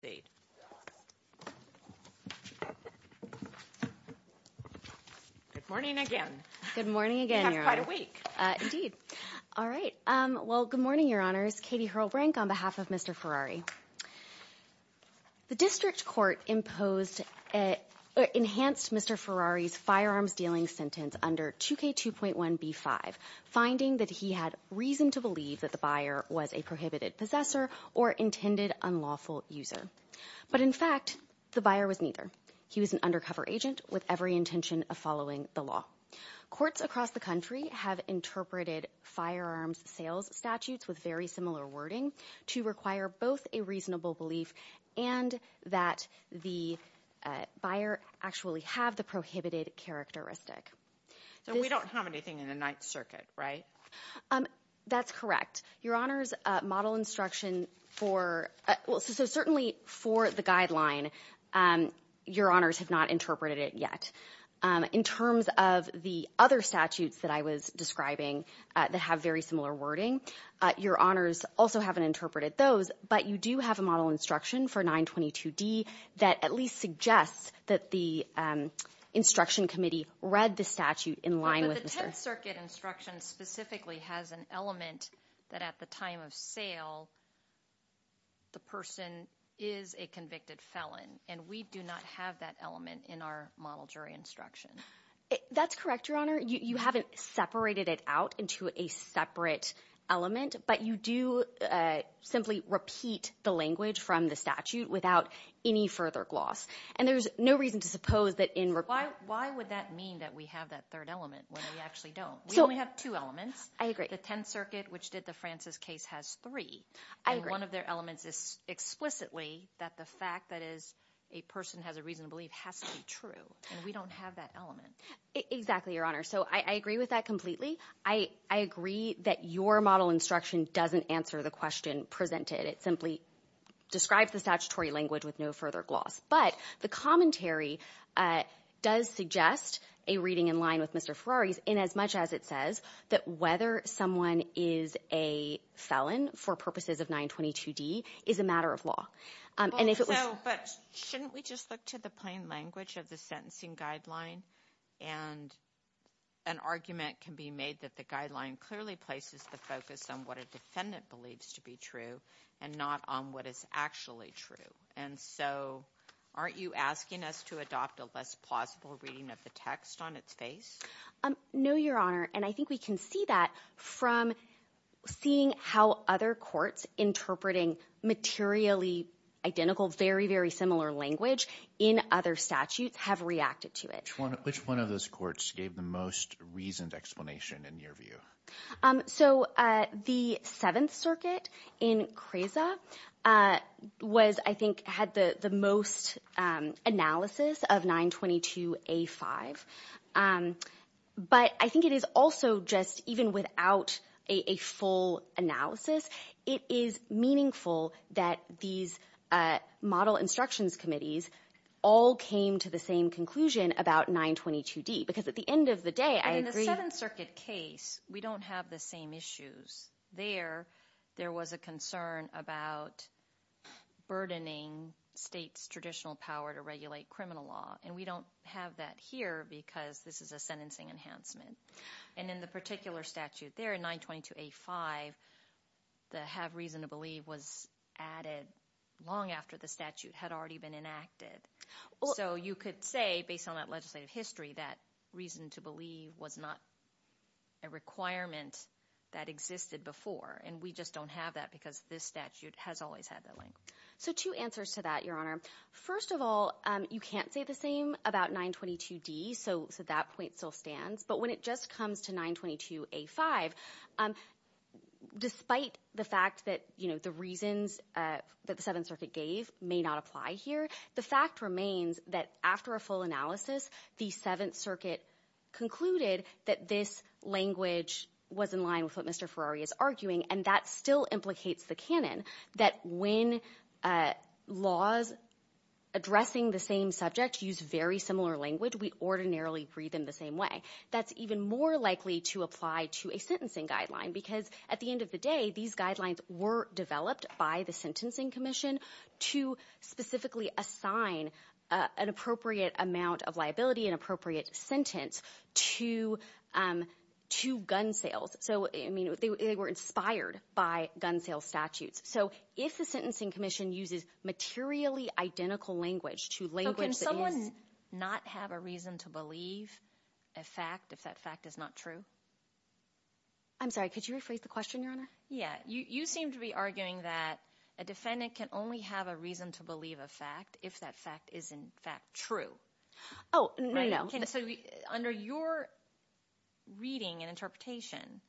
state. Good morning again. Good morning again. You're quite awake. All right. Well, good morning, Your Honors. Katie Hurlbrink, on behalf of Mr. Ferrari. The district court imposed, enhanced Mr. Ferrari's firearms dealing sentence under 2K2.1b5, finding that he had reason to believe that the buyer was a prohibited possessor or intended unlawful user. But in fact, the buyer was neither. He was an undercover agent with every intention of following the law. Courts across the country have interpreted firearms sales statutes with very similar wording to require both a reasonable belief and that the buyer actually have the prohibited characteristic. So we don't have anything in the Ninth Circuit, right? That's correct. Your Honors, model instruction for – so certainly for the guideline, Your Honors have not interpreted it yet. In terms of the other statutes that I was describing that have very similar wording, Your Honors also haven't interpreted those, but you do have a model instruction for 922D that at least suggests that the instruction committee read the statute in line with the – But the Tenth Circuit instruction specifically has an element that at the time of sale, the person is a convicted felon, and we do not have that element in our model jury instruction. That's correct, Your Honor. You haven't separated it out into a separate element, but you do simply repeat the language from the statute without any further gloss, and there's no reason to suppose that in – Why would that mean that we have that third element when we actually don't? We only have two elements. I agree. The Tenth Circuit, which did the Francis case, has three. I agree. And one of their elements is explicitly that the fact that a person has a reason to believe has to be true, and we don't have that element. Exactly, Your Honor. So I agree with that completely. I agree that your model instruction doesn't answer the question presented. It simply describes the statutory language with no further gloss, but the commentary does suggest a reading in line with Mr. Ferrari's in as much as it says that whether someone is a felon for purposes of 922D is a matter of law, and if it was – clearly places the focus on what a defendant believes to be true and not on what is actually true. And so aren't you asking us to adopt a less plausible reading of the text on its face? No, Your Honor. And I think we can see that from seeing how other courts interpreting materially identical, very, very similar language in other statutes have reacted to it. Which one of those courts gave the most reasoned explanation in your view? So the Seventh Circuit in CREAZA was, I think, had the most analysis of 922A5. But I think it is also just even without a full analysis, it is meaningful that these model instructions committees all came to the same conclusion about 922D. Because at the end of the day, I agree— In the Seventh Circuit case, we don't have the same issues. There, there was a concern about burdening states' traditional power to regulate criminal law. And we don't have that here because this is a sentencing enhancement. And in the particular statute there, 922A5, the have reason to believe was added long after the statute had already been enacted. So you could say, based on that legislative history, that reason to believe was not a requirement that existed before. And we just don't have that because this statute has always had that length. So two answers to that, Your Honor. First of all, you can't say the same about 922D, so that point still stands. But when it just comes to 922A5, despite the fact that, you know, the reasons that the Seventh Circuit gave may not apply here, the fact remains that after a full analysis, the Seventh Circuit concluded that this language was in line with what Mr. Ferrari is arguing. And that still implicates the canon that when laws addressing the same subject use very similar language, we ordinarily read them the same way. That's even more likely to apply to a sentencing guideline because, at the end of the day, these guidelines were developed by the Sentencing Commission to specifically assign an appropriate amount of liability, an appropriate sentence to gun sales. So, I mean, they were inspired by gun sales statutes. So if the Sentencing Commission uses materially identical language to language that is- I'm sorry. Could you rephrase the question, Your Honor? Yeah. You seem to be arguing that a defendant can only have a reason to believe a fact if that fact is, in fact, true. Oh, no, no. So under your reading and interpretation,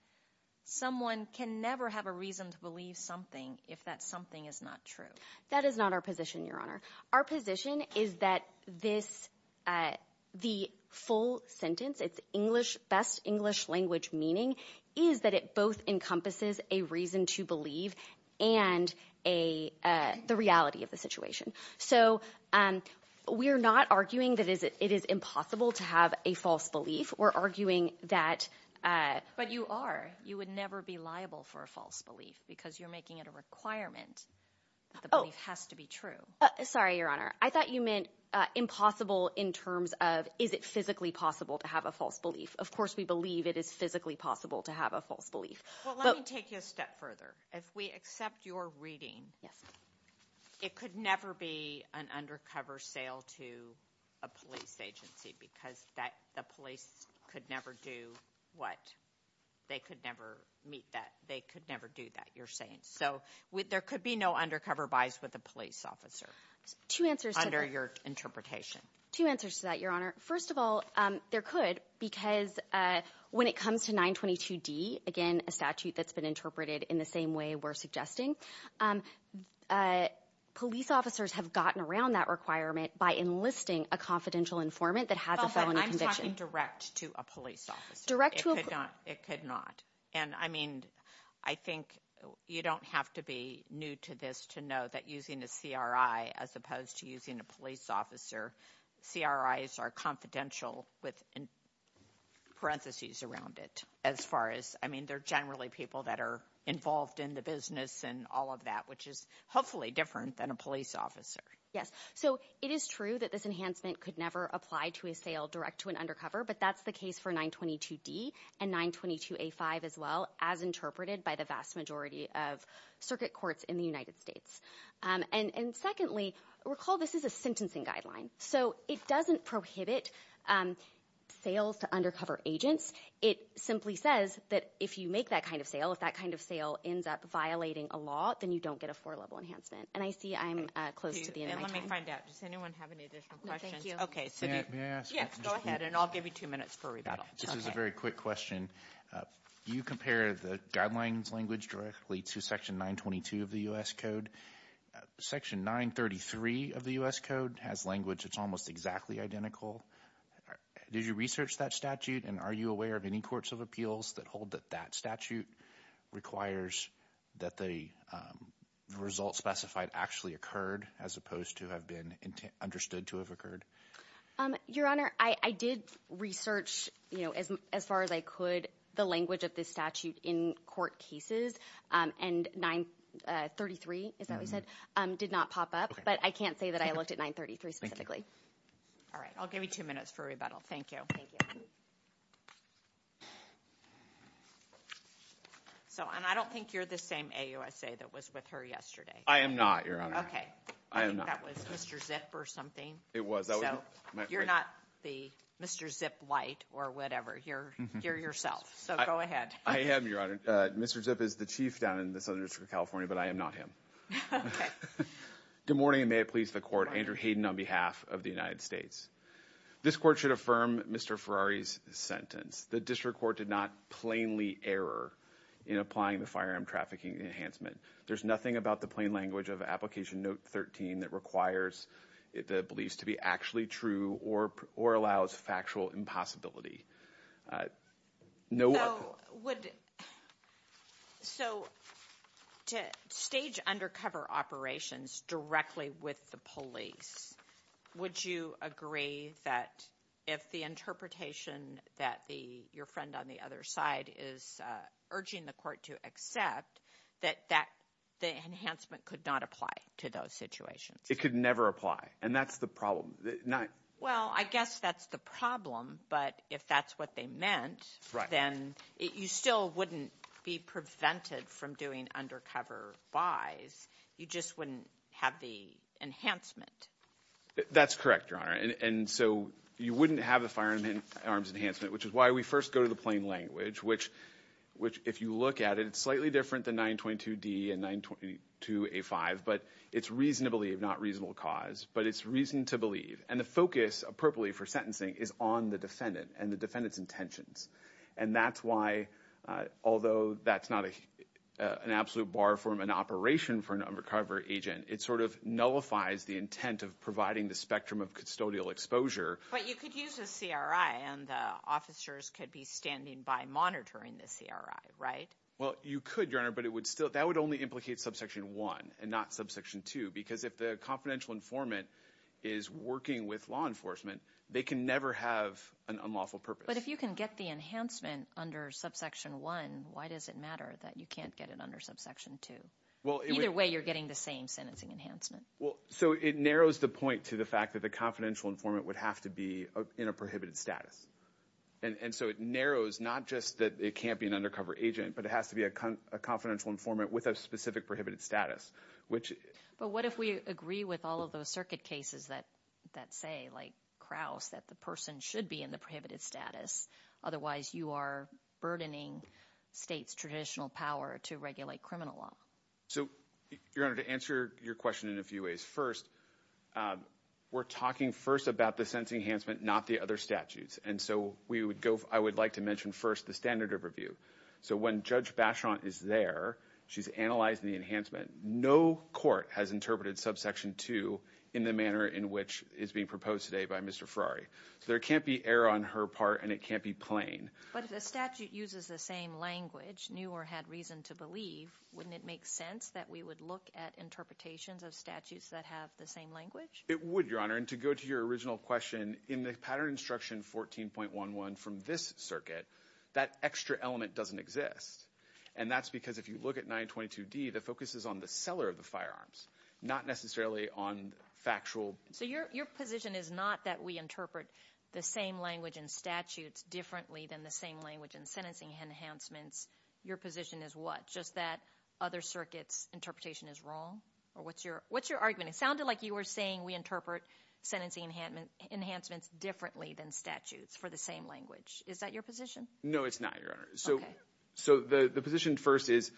someone can never have a reason to believe something if that something is not true. That is not our position, Your Honor. Our position is that the full sentence, its best English language meaning, is that it both encompasses a reason to believe and the reality of the situation. So we are not arguing that it is impossible to have a false belief. We're arguing that- But you are. You would never be liable for a false belief because you're making it a requirement that the belief has to be true. Sorry, Your Honor. I thought you meant impossible in terms of is it physically possible to have a false belief. Of course, we believe it is physically possible to have a false belief. Well, let me take you a step further. If we accept your reading- Yes. It could never be an undercover sale to a police agency because the police could never do what? They could never meet that. They could never do that, you're saying. So there could be no undercover buys with a police officer under your interpretation. Two answers to that, Your Honor. First of all, there could because when it comes to 922D, again, a statute that's been interpreted in the same way we're suggesting, police officers have gotten around that requirement by enlisting a confidential informant that has a felony conviction. I'm talking direct to a police officer. Direct to a- It could not. And, I mean, I think you don't have to be new to this to know that using a CRI as opposed to using a police officer, CRIs are confidential with parentheses around it as far as, I mean, they're generally people that are involved in the business and all of that, which is hopefully different than a police officer. Yes. So it is true that this enhancement could never apply to a sale direct to an undercover, but that's the case for 922D and 922A5 as well as interpreted by the vast majority of circuit courts in the United States. And secondly, recall this is a sentencing guideline. So it doesn't prohibit sales to undercover agents. It simply says that if you make that kind of sale, if that kind of sale ends up violating a law, then you don't get a four-level enhancement. And I see I'm close to the end of my time. Let me find out. Does anyone have any additional questions? No, thank you. Okay, so do you- May I ask- Yes, go ahead, and I'll give you two minutes for rebuttal. This is a very quick question. You compare the guidelines language directly to Section 922 of the U.S. Code. Section 933 of the U.S. Code has language that's almost exactly identical. Did you research that statute, and are you aware of any courts of appeals that hold that that statute requires that the results specified actually occurred as opposed to have been understood to have occurred? Your Honor, I did research as far as I could the language of this statute in court cases, and 933, is that what you said, did not pop up. But I can't say that I looked at 933 specifically. Thank you. All right, I'll give you two minutes for rebuttal. Thank you. Thank you. So, and I don't think you're the same AUSA that was with her yesterday. I am not, Your Honor. Okay. I am not. I think that was Mr. Zip or something. It was. So, you're not the Mr. Zip light or whatever. You're yourself, so go ahead. I am, Your Honor. Mr. Zip is the chief down in the Southern District of California, but I am not him. Okay. Good morning, and may it please the court. Andrew Hayden on behalf of the United States. This court should affirm Mr. Ferrari's sentence. The district court did not plainly error in applying the firearm trafficking enhancement. There's nothing about the plain language of Application Note 13 that requires the beliefs to be actually true or allows factual impossibility. So, to stage undercover operations directly with the police, would you agree that if the interpretation that your friend on the other side is urging the court to accept, that the enhancement could not apply to those situations? It could never apply, and that's the problem. Well, I guess that's the problem, but if that's what they meant, then you still wouldn't be prevented from doing undercover buys. You just wouldn't have the enhancement. That's correct, Your Honor, and so you wouldn't have a firearm enhancement, which is why we first go to the plain language, which if you look at it, it's slightly different than 922D and 922A5, but it's reason to believe, not reasonable cause. But it's reason to believe, and the focus appropriately for sentencing is on the defendant and the defendant's intentions, and that's why, although that's not an absolute bar for an operation for an undercover agent, it sort of nullifies the intent of providing the spectrum of custodial exposure. But you could use a CRI, and the officers could be standing by monitoring the CRI, right? Well, you could, Your Honor, but that would only implicate Subsection 1 and not Subsection 2, because if the confidential informant is working with law enforcement, they can never have an unlawful purpose. But if you can get the enhancement under Subsection 1, why does it matter that you can't get it under Subsection 2? Either way, you're getting the same sentencing enhancement. Well, so it narrows the point to the fact that the confidential informant would have to be in a prohibited status. And so it narrows not just that it can't be an undercover agent, but it has to be a confidential informant with a specific prohibited status. But what if we agree with all of those circuit cases that say, like Krauss, that the person should be in the prohibited status? Otherwise, you are burdening states' traditional power to regulate criminal law. So, Your Honor, to answer your question in a few ways, first, we're talking first about the sentencing enhancement, not the other statutes. And so I would like to mention first the standard of review. So when Judge Bacheron is there, she's analyzing the enhancement. No court has interpreted Subsection 2 in the manner in which is being proposed today by Mr. Ferrari. So there can't be error on her part, and it can't be plain. But if the statute uses the same language, knew or had reason to believe, wouldn't it make sense that we would look at interpretations of statutes that have the same language? It would, Your Honor. And to go to your original question, in the pattern instruction 14.11 from this circuit, that extra element doesn't exist. And that's because if you look at 922D, the focus is on the seller of the firearms, not necessarily on factual. So your position is not that we interpret the same language in statutes differently than the same language in sentencing enhancements. Your position is what? Just that other circuits' interpretation is wrong? Or what's your argument? It sounded like you were saying we interpret sentencing enhancements differently than statutes for the same language. Is that your position? No, it's not, Your Honor. Okay. So the position first is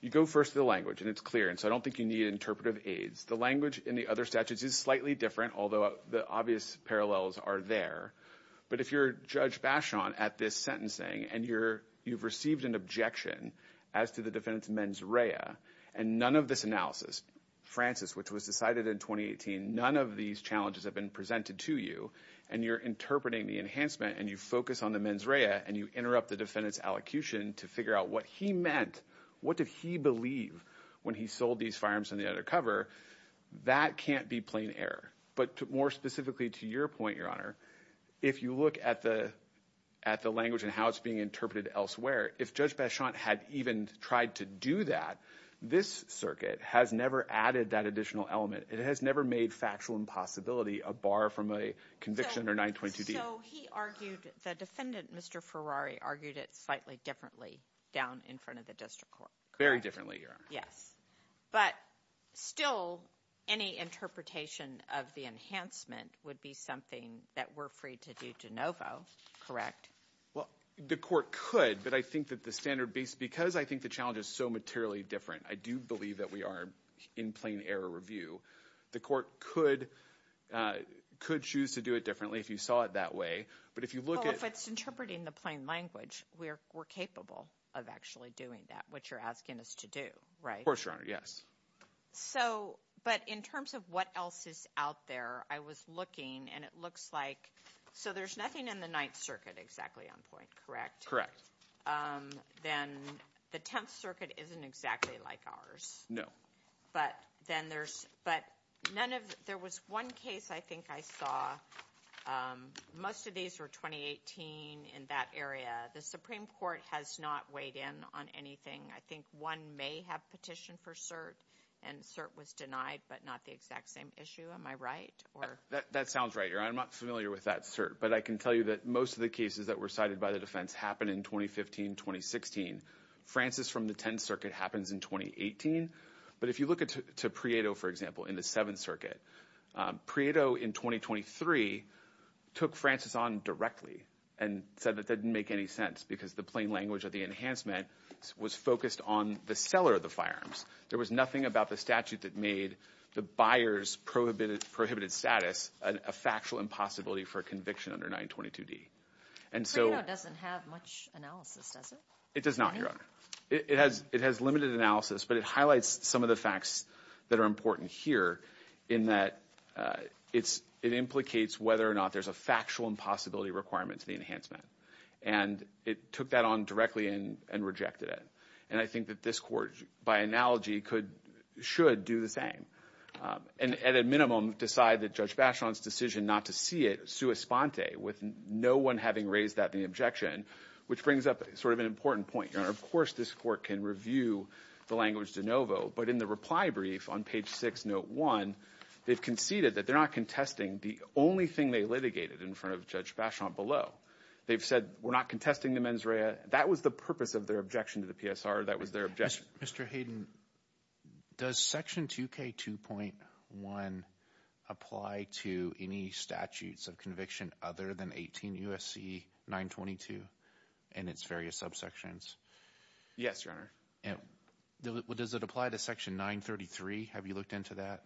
you go first to the language, and it's clear. And so I don't think you need interpretive aids. The language in the other statutes is slightly different, although the obvious parallels are there. But if you're Judge Bashon at this sentencing and you've received an objection as to the defendant's mens rea, and none of this analysis, Francis, which was decided in 2018, none of these challenges have been presented to you, and you're interpreting the enhancement and you focus on the mens rea and you interrupt the defendant's allocution to figure out what he meant, what did he believe when he sold these firearms on the other cover, that can't be plain error. But more specifically to your point, Your Honor, if you look at the language and how it's being interpreted elsewhere, if Judge Bashon had even tried to do that, this circuit has never added that additional element. It has never made factual impossibility a bar from a conviction under 922D. So he argued, the defendant, Mr. Ferrari, argued it slightly differently down in front of the district court. Very differently, Your Honor. Yes. But still, any interpretation of the enhancement would be something that we're free to do de novo, correct? Well, the court could, but I think that the standard base, because I think the challenge is so materially different, I do believe that we are in plain error review. The court could choose to do it differently if you saw it that way. But if you look at- Well, if it's interpreting the plain language, we're capable of actually doing that, what you're asking us to do, right? Of course, Your Honor, yes. So, but in terms of what else is out there, I was looking and it looks like, so there's nothing in the Ninth Circuit exactly on point, correct? Correct. Then the Tenth Circuit isn't exactly like ours. No. But then there's- but none of- there was one case I think I saw, most of these were 2018 in that area. The Supreme Court has not weighed in on anything. I think one may have petitioned for cert and cert was denied, but not the exact same issue. Am I right? That sounds right, Your Honor. I'm not familiar with that cert, but I can tell you that most of the cases that were cited by the defense happened in 2015, 2016. Francis from the Tenth Circuit happens in 2018. But if you look at- to Prieto, for example, in the Seventh Circuit, Prieto in 2023 took Francis on directly and said that that didn't make any sense because the plain language of the enhancement was focused on the seller of the firearms. There was nothing about the statute that made the buyer's prohibited status a factual impossibility for conviction under 922d. And so- Prieto doesn't have much analysis, does it? It does not, Your Honor. It has- it has limited analysis, but it highlights some of the facts that are important here in that it's- it implicates whether or not there's a factual impossibility requirement to the enhancement. And it took that on directly and rejected it. And I think that this court, by analogy, could- should do the same and at a minimum decide that Judge Bacheron's decision not to see it sua sponte with no one having raised that in the objection, which brings up sort of an important point, Your Honor. Of course, this court can review the language de novo. But in the reply brief on page 6, note 1, they've conceded that they're not contesting the only thing they litigated in front of Judge Bacheron below. They've said, we're not contesting the mens rea. That was the purpose of their objection to the PSR. That was their objection. Mr. Hayden, does Section 2K2.1 apply to any statutes of conviction other than 18 U.S.C. 922 and its various subsections? Yes, Your Honor. Does it apply to Section 933? Have you looked into that?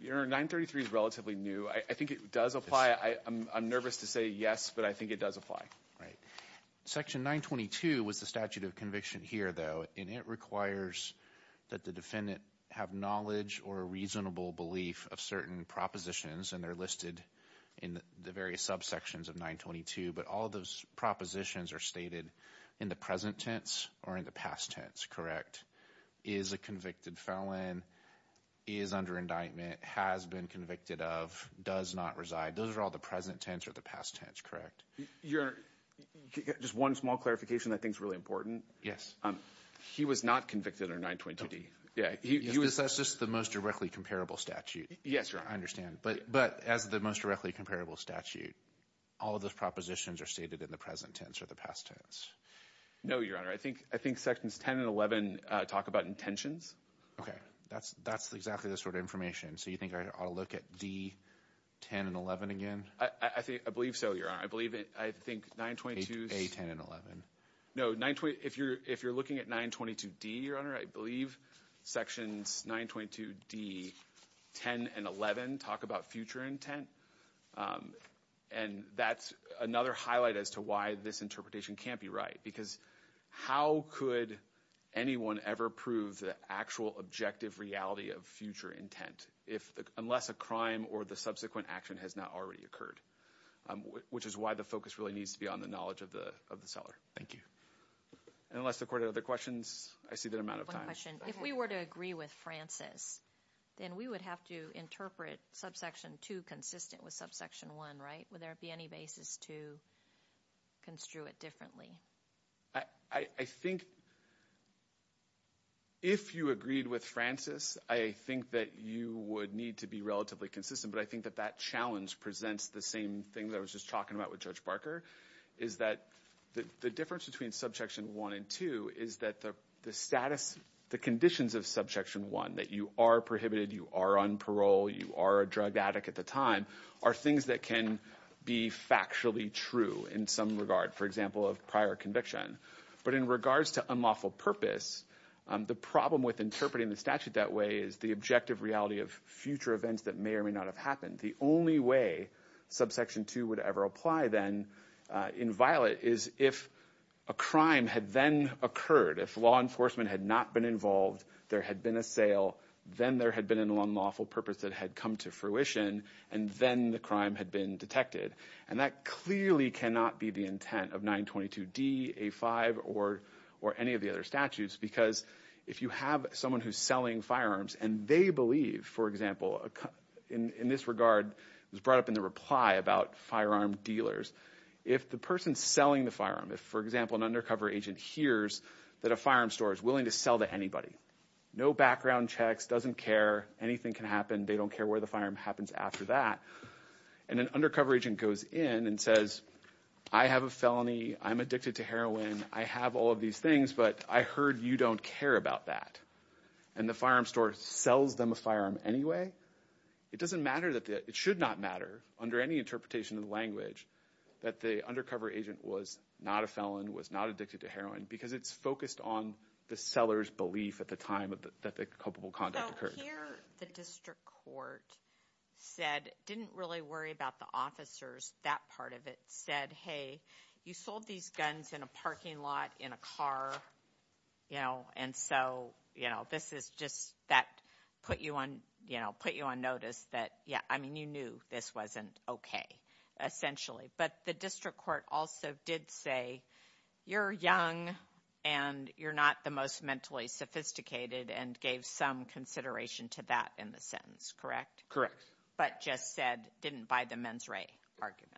Your Honor, 933 is relatively new. I think it does apply. I'm nervous to say yes, but I think it does apply. Right. Section 922 was the statute of conviction here, though. And it requires that the defendant have knowledge or a reasonable belief of certain propositions. And they're listed in the various subsections of 922. But all those propositions are stated in the present tense or in the past tense, correct? Is a convicted felon, is under indictment, has been convicted of, does not reside. Those are all the present tense or the past tense, correct? Your Honor, just one small clarification that I think is really important. He was not convicted under 922D. That's just the most directly comparable statute. Yes, Your Honor. I understand. But as the most directly comparable statute, all of those propositions are stated in the present tense or the past tense? No, Your Honor. I think Sections 10 and 11 talk about intentions. Okay. That's exactly the sort of information. So you think I ought to look at D, 10, and 11 again? I believe so, Your Honor. I believe, I think, 922… A, 10, and 11. No, if you're looking at 922D, Your Honor, I believe Sections 922D, 10, and 11 talk about future intent. And that's another highlight as to why this interpretation can't be right. Because how could anyone ever prove the actual objective reality of future intent unless a crime or the subsequent action has not already occurred? Which is why the focus really needs to be on the knowledge of the seller. Thank you. And unless the Court had other questions, I see that amount of time. If we were to agree with Francis, then we would have to interpret Subsection 2 consistent with Subsection 1, right? Would there be any basis to construe it differently? I think if you agreed with Francis, I think that you would need to be relatively consistent. But I think that that challenge presents the same thing that I was just talking about with Judge Barker, is that the difference between Subsection 1 and 2 is that the status, the conditions of Subsection 1, that you are prohibited, you are on parole, you are a drug addict at the time, are things that can be factually true in some regard. For example, of prior conviction. But in regards to unlawful purpose, the problem with interpreting the statute that way is the objective reality of future events that may or may not have happened. The only way Subsection 2 would ever apply then in violet is if a crime had then occurred, if law enforcement had not been involved, there had been a sale, then there had been an unlawful purpose that had come to fruition, and then the crime had been detected. And that clearly cannot be the intent of 922d, A5, or any of the other statutes, because if you have someone who's selling firearms and they believe, for example, in this regard, it was brought up in the reply about firearm dealers, if the person selling the firearm, if, for example, an undercover agent hears that a firearm store is willing to sell to anybody, no background checks, doesn't care, anything can happen, they don't care where the firearm happens after that, and an undercover agent goes in and says, I have a felony, I'm addicted to heroin, and I have all of these things, but I heard you don't care about that, and the firearm store sells them a firearm anyway, it doesn't matter, it should not matter, under any interpretation of the language, that the undercover agent was not a felon, was not addicted to heroin, because it's focused on the seller's belief at the time that the culpable conduct occurred. So here the district court said, didn't really worry about the officers, that part of it, and said, hey, you sold these guns in a parking lot, in a car, you know, and so, you know, this is just, that put you on notice that, yeah, I mean, you knew this wasn't okay, essentially, but the district court also did say, you're young and you're not the most mentally sophisticated, and gave some consideration to that in the sentence, correct? Correct. But just said, didn't buy the mens re argument?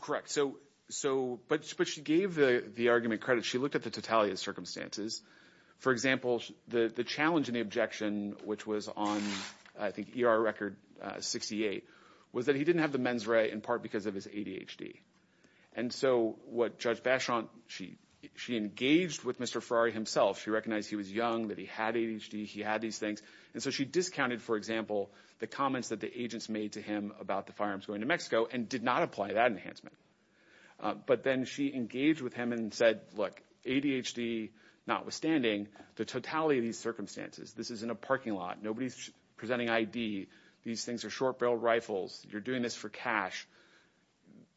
Correct. So, but she gave the argument credit. She looked at the totality of circumstances. For example, the challenge and the objection, which was on, I think, ER record 68, was that he didn't have the mens re in part because of his ADHD. And so what Judge Bachon, she engaged with Mr. Ferrari himself, she recognized he was young, that he had ADHD, he had these things, and so she discounted, for example, the comments that the agents made to him about the firearms going to Mexico and did not apply that enhancement. But then she engaged with him and said, look, ADHD notwithstanding, the totality of these circumstances, this is in a parking lot, nobody's presenting ID, these things are short-barreled rifles, you're doing this for cash,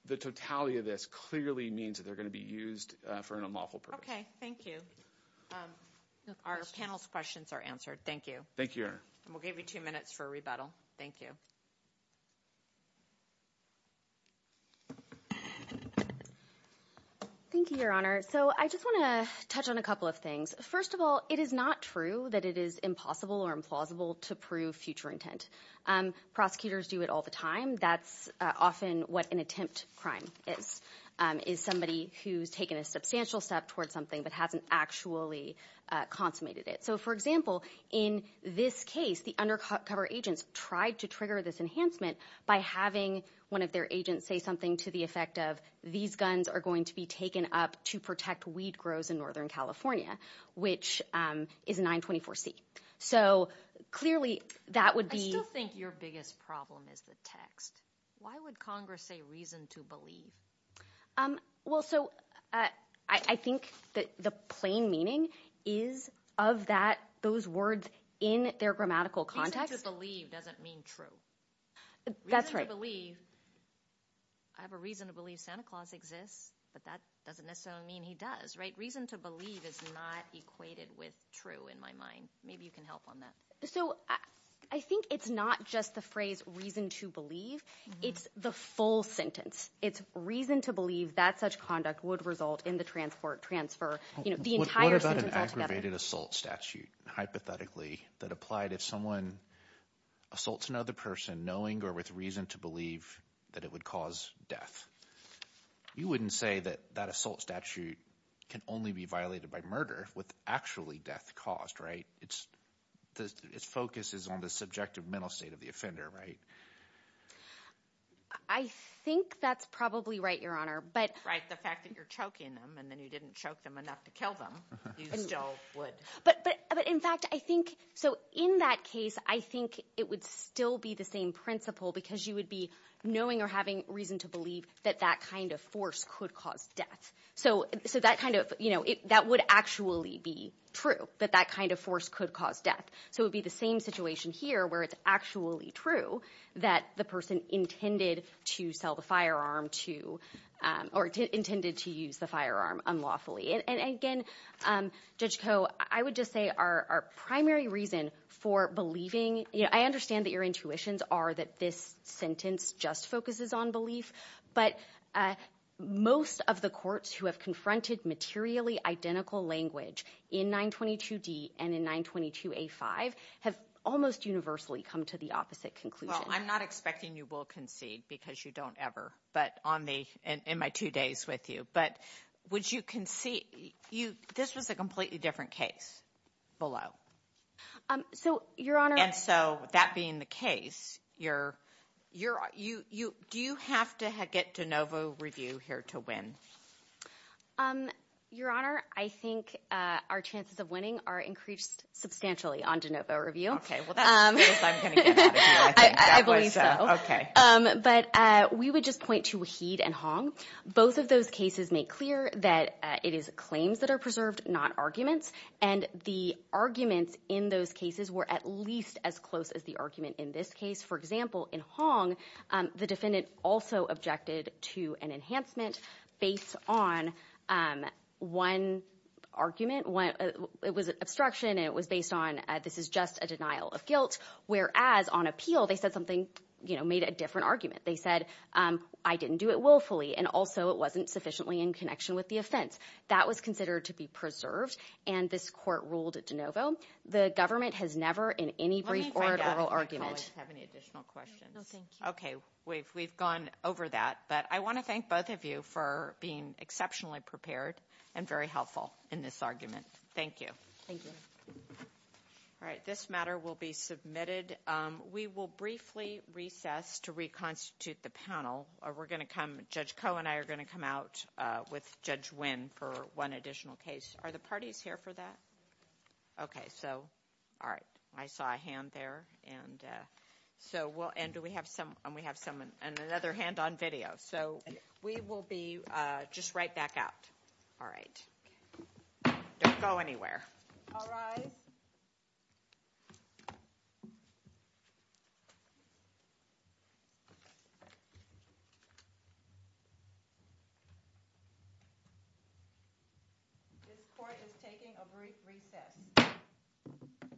the totality of this clearly means that they're going to be used for an unlawful purpose. Okay, thank you. Our panel's questions are answered. Thank you. Thank you. We'll give you two minutes for a rebuttal. Thank you. Thank you, Your Honor. So I just want to touch on a couple of things. First of all, it is not true that it is impossible or implausible to prove future intent. Prosecutors do it all the time. That's often what an attempt crime is, is somebody who's taken a substantial step towards something but hasn't actually consummated it. So, for example, in this case, the undercover agents tried to trigger this enhancement by having one of their agents say something to the effect of, these guns are going to be taken up to protect weed grows in Northern California, which is 924C. So clearly that would be – I still think your biggest problem is the text. Why would Congress say reason to believe? Well, so I think the plain meaning is of those words in their grammatical context. Reason to believe doesn't mean true. That's right. Reason to believe – I have a reason to believe Santa Claus exists, but that doesn't necessarily mean he does, right? Reason to believe is not equated with true in my mind. Maybe you can help on that. So I think it's not just the phrase reason to believe. It's the full sentence. It's reason to believe that such conduct would result in the transfer, the entire sentence altogether. What about an aggravated assault statute, hypothetically, that applied if someone assaults another person knowing or with reason to believe that it would cause death? You wouldn't say that that assault statute can only be violated by murder with actually death caused, right? Its focus is on the subjective mental state of the offender, right? I think that's probably right, Your Honor. Right, the fact that you're choking them and then you didn't choke them enough to kill them, you still would. But in fact, I think – so in that case, I think it would still be the same principle because you would be knowing or having reason to believe that that kind of force could cause death. So that kind of – that would actually be true, that that kind of force could cause death. So it would be the same situation here where it's actually true that the person intended to sell the firearm to – or intended to use the firearm unlawfully. And again, Judge Koh, I would just say our primary reason for believing – I understand that your intuitions are that this sentence just focuses on belief, but most of the courts who have confronted materially identical language in 922D and in 922A5 have almost universally come to the opposite conclusion. Well, I'm not expecting you will concede because you don't ever, but on the – in my two days with you. But would you concede – this was a completely different case below. So, Your Honor – And so that being the case, you're – do you have to get de novo review here to win? Your Honor, I think our chances of winning are increased substantially on de novo review. Okay. Well, that's the biggest I'm going to get out of you, I think. I believe so. Okay. But we would just point to Waheed and Hong. Both of those cases make clear that it is claims that are preserved, not arguments. And the arguments in those cases were at least as close as the argument in this case. For example, in Hong, the defendant also objected to an enhancement based on one argument. It was an obstruction, and it was based on this is just a denial of guilt, whereas on appeal they said something – made a different argument. They said, I didn't do it willfully, and also it wasn't sufficiently in connection with the offense. That was considered to be preserved, and this court ruled de novo. The government has never in any brief oral argument – Let me find out if my colleagues have any additional questions. No, thank you. Okay. We've gone over that. But I want to thank both of you for being exceptionally prepared and very helpful in this argument. Thank you. Thank you. All right. This matter will be submitted. We will briefly recess to reconstitute the panel. Judge Koh and I are going to come out with Judge Nguyen for one additional case. Are the parties here for that? Okay. All right. I saw a hand there. And we have another hand on video. So we will be just right back out. All right. Don't go anywhere. All rise. This court is taking a brief recess.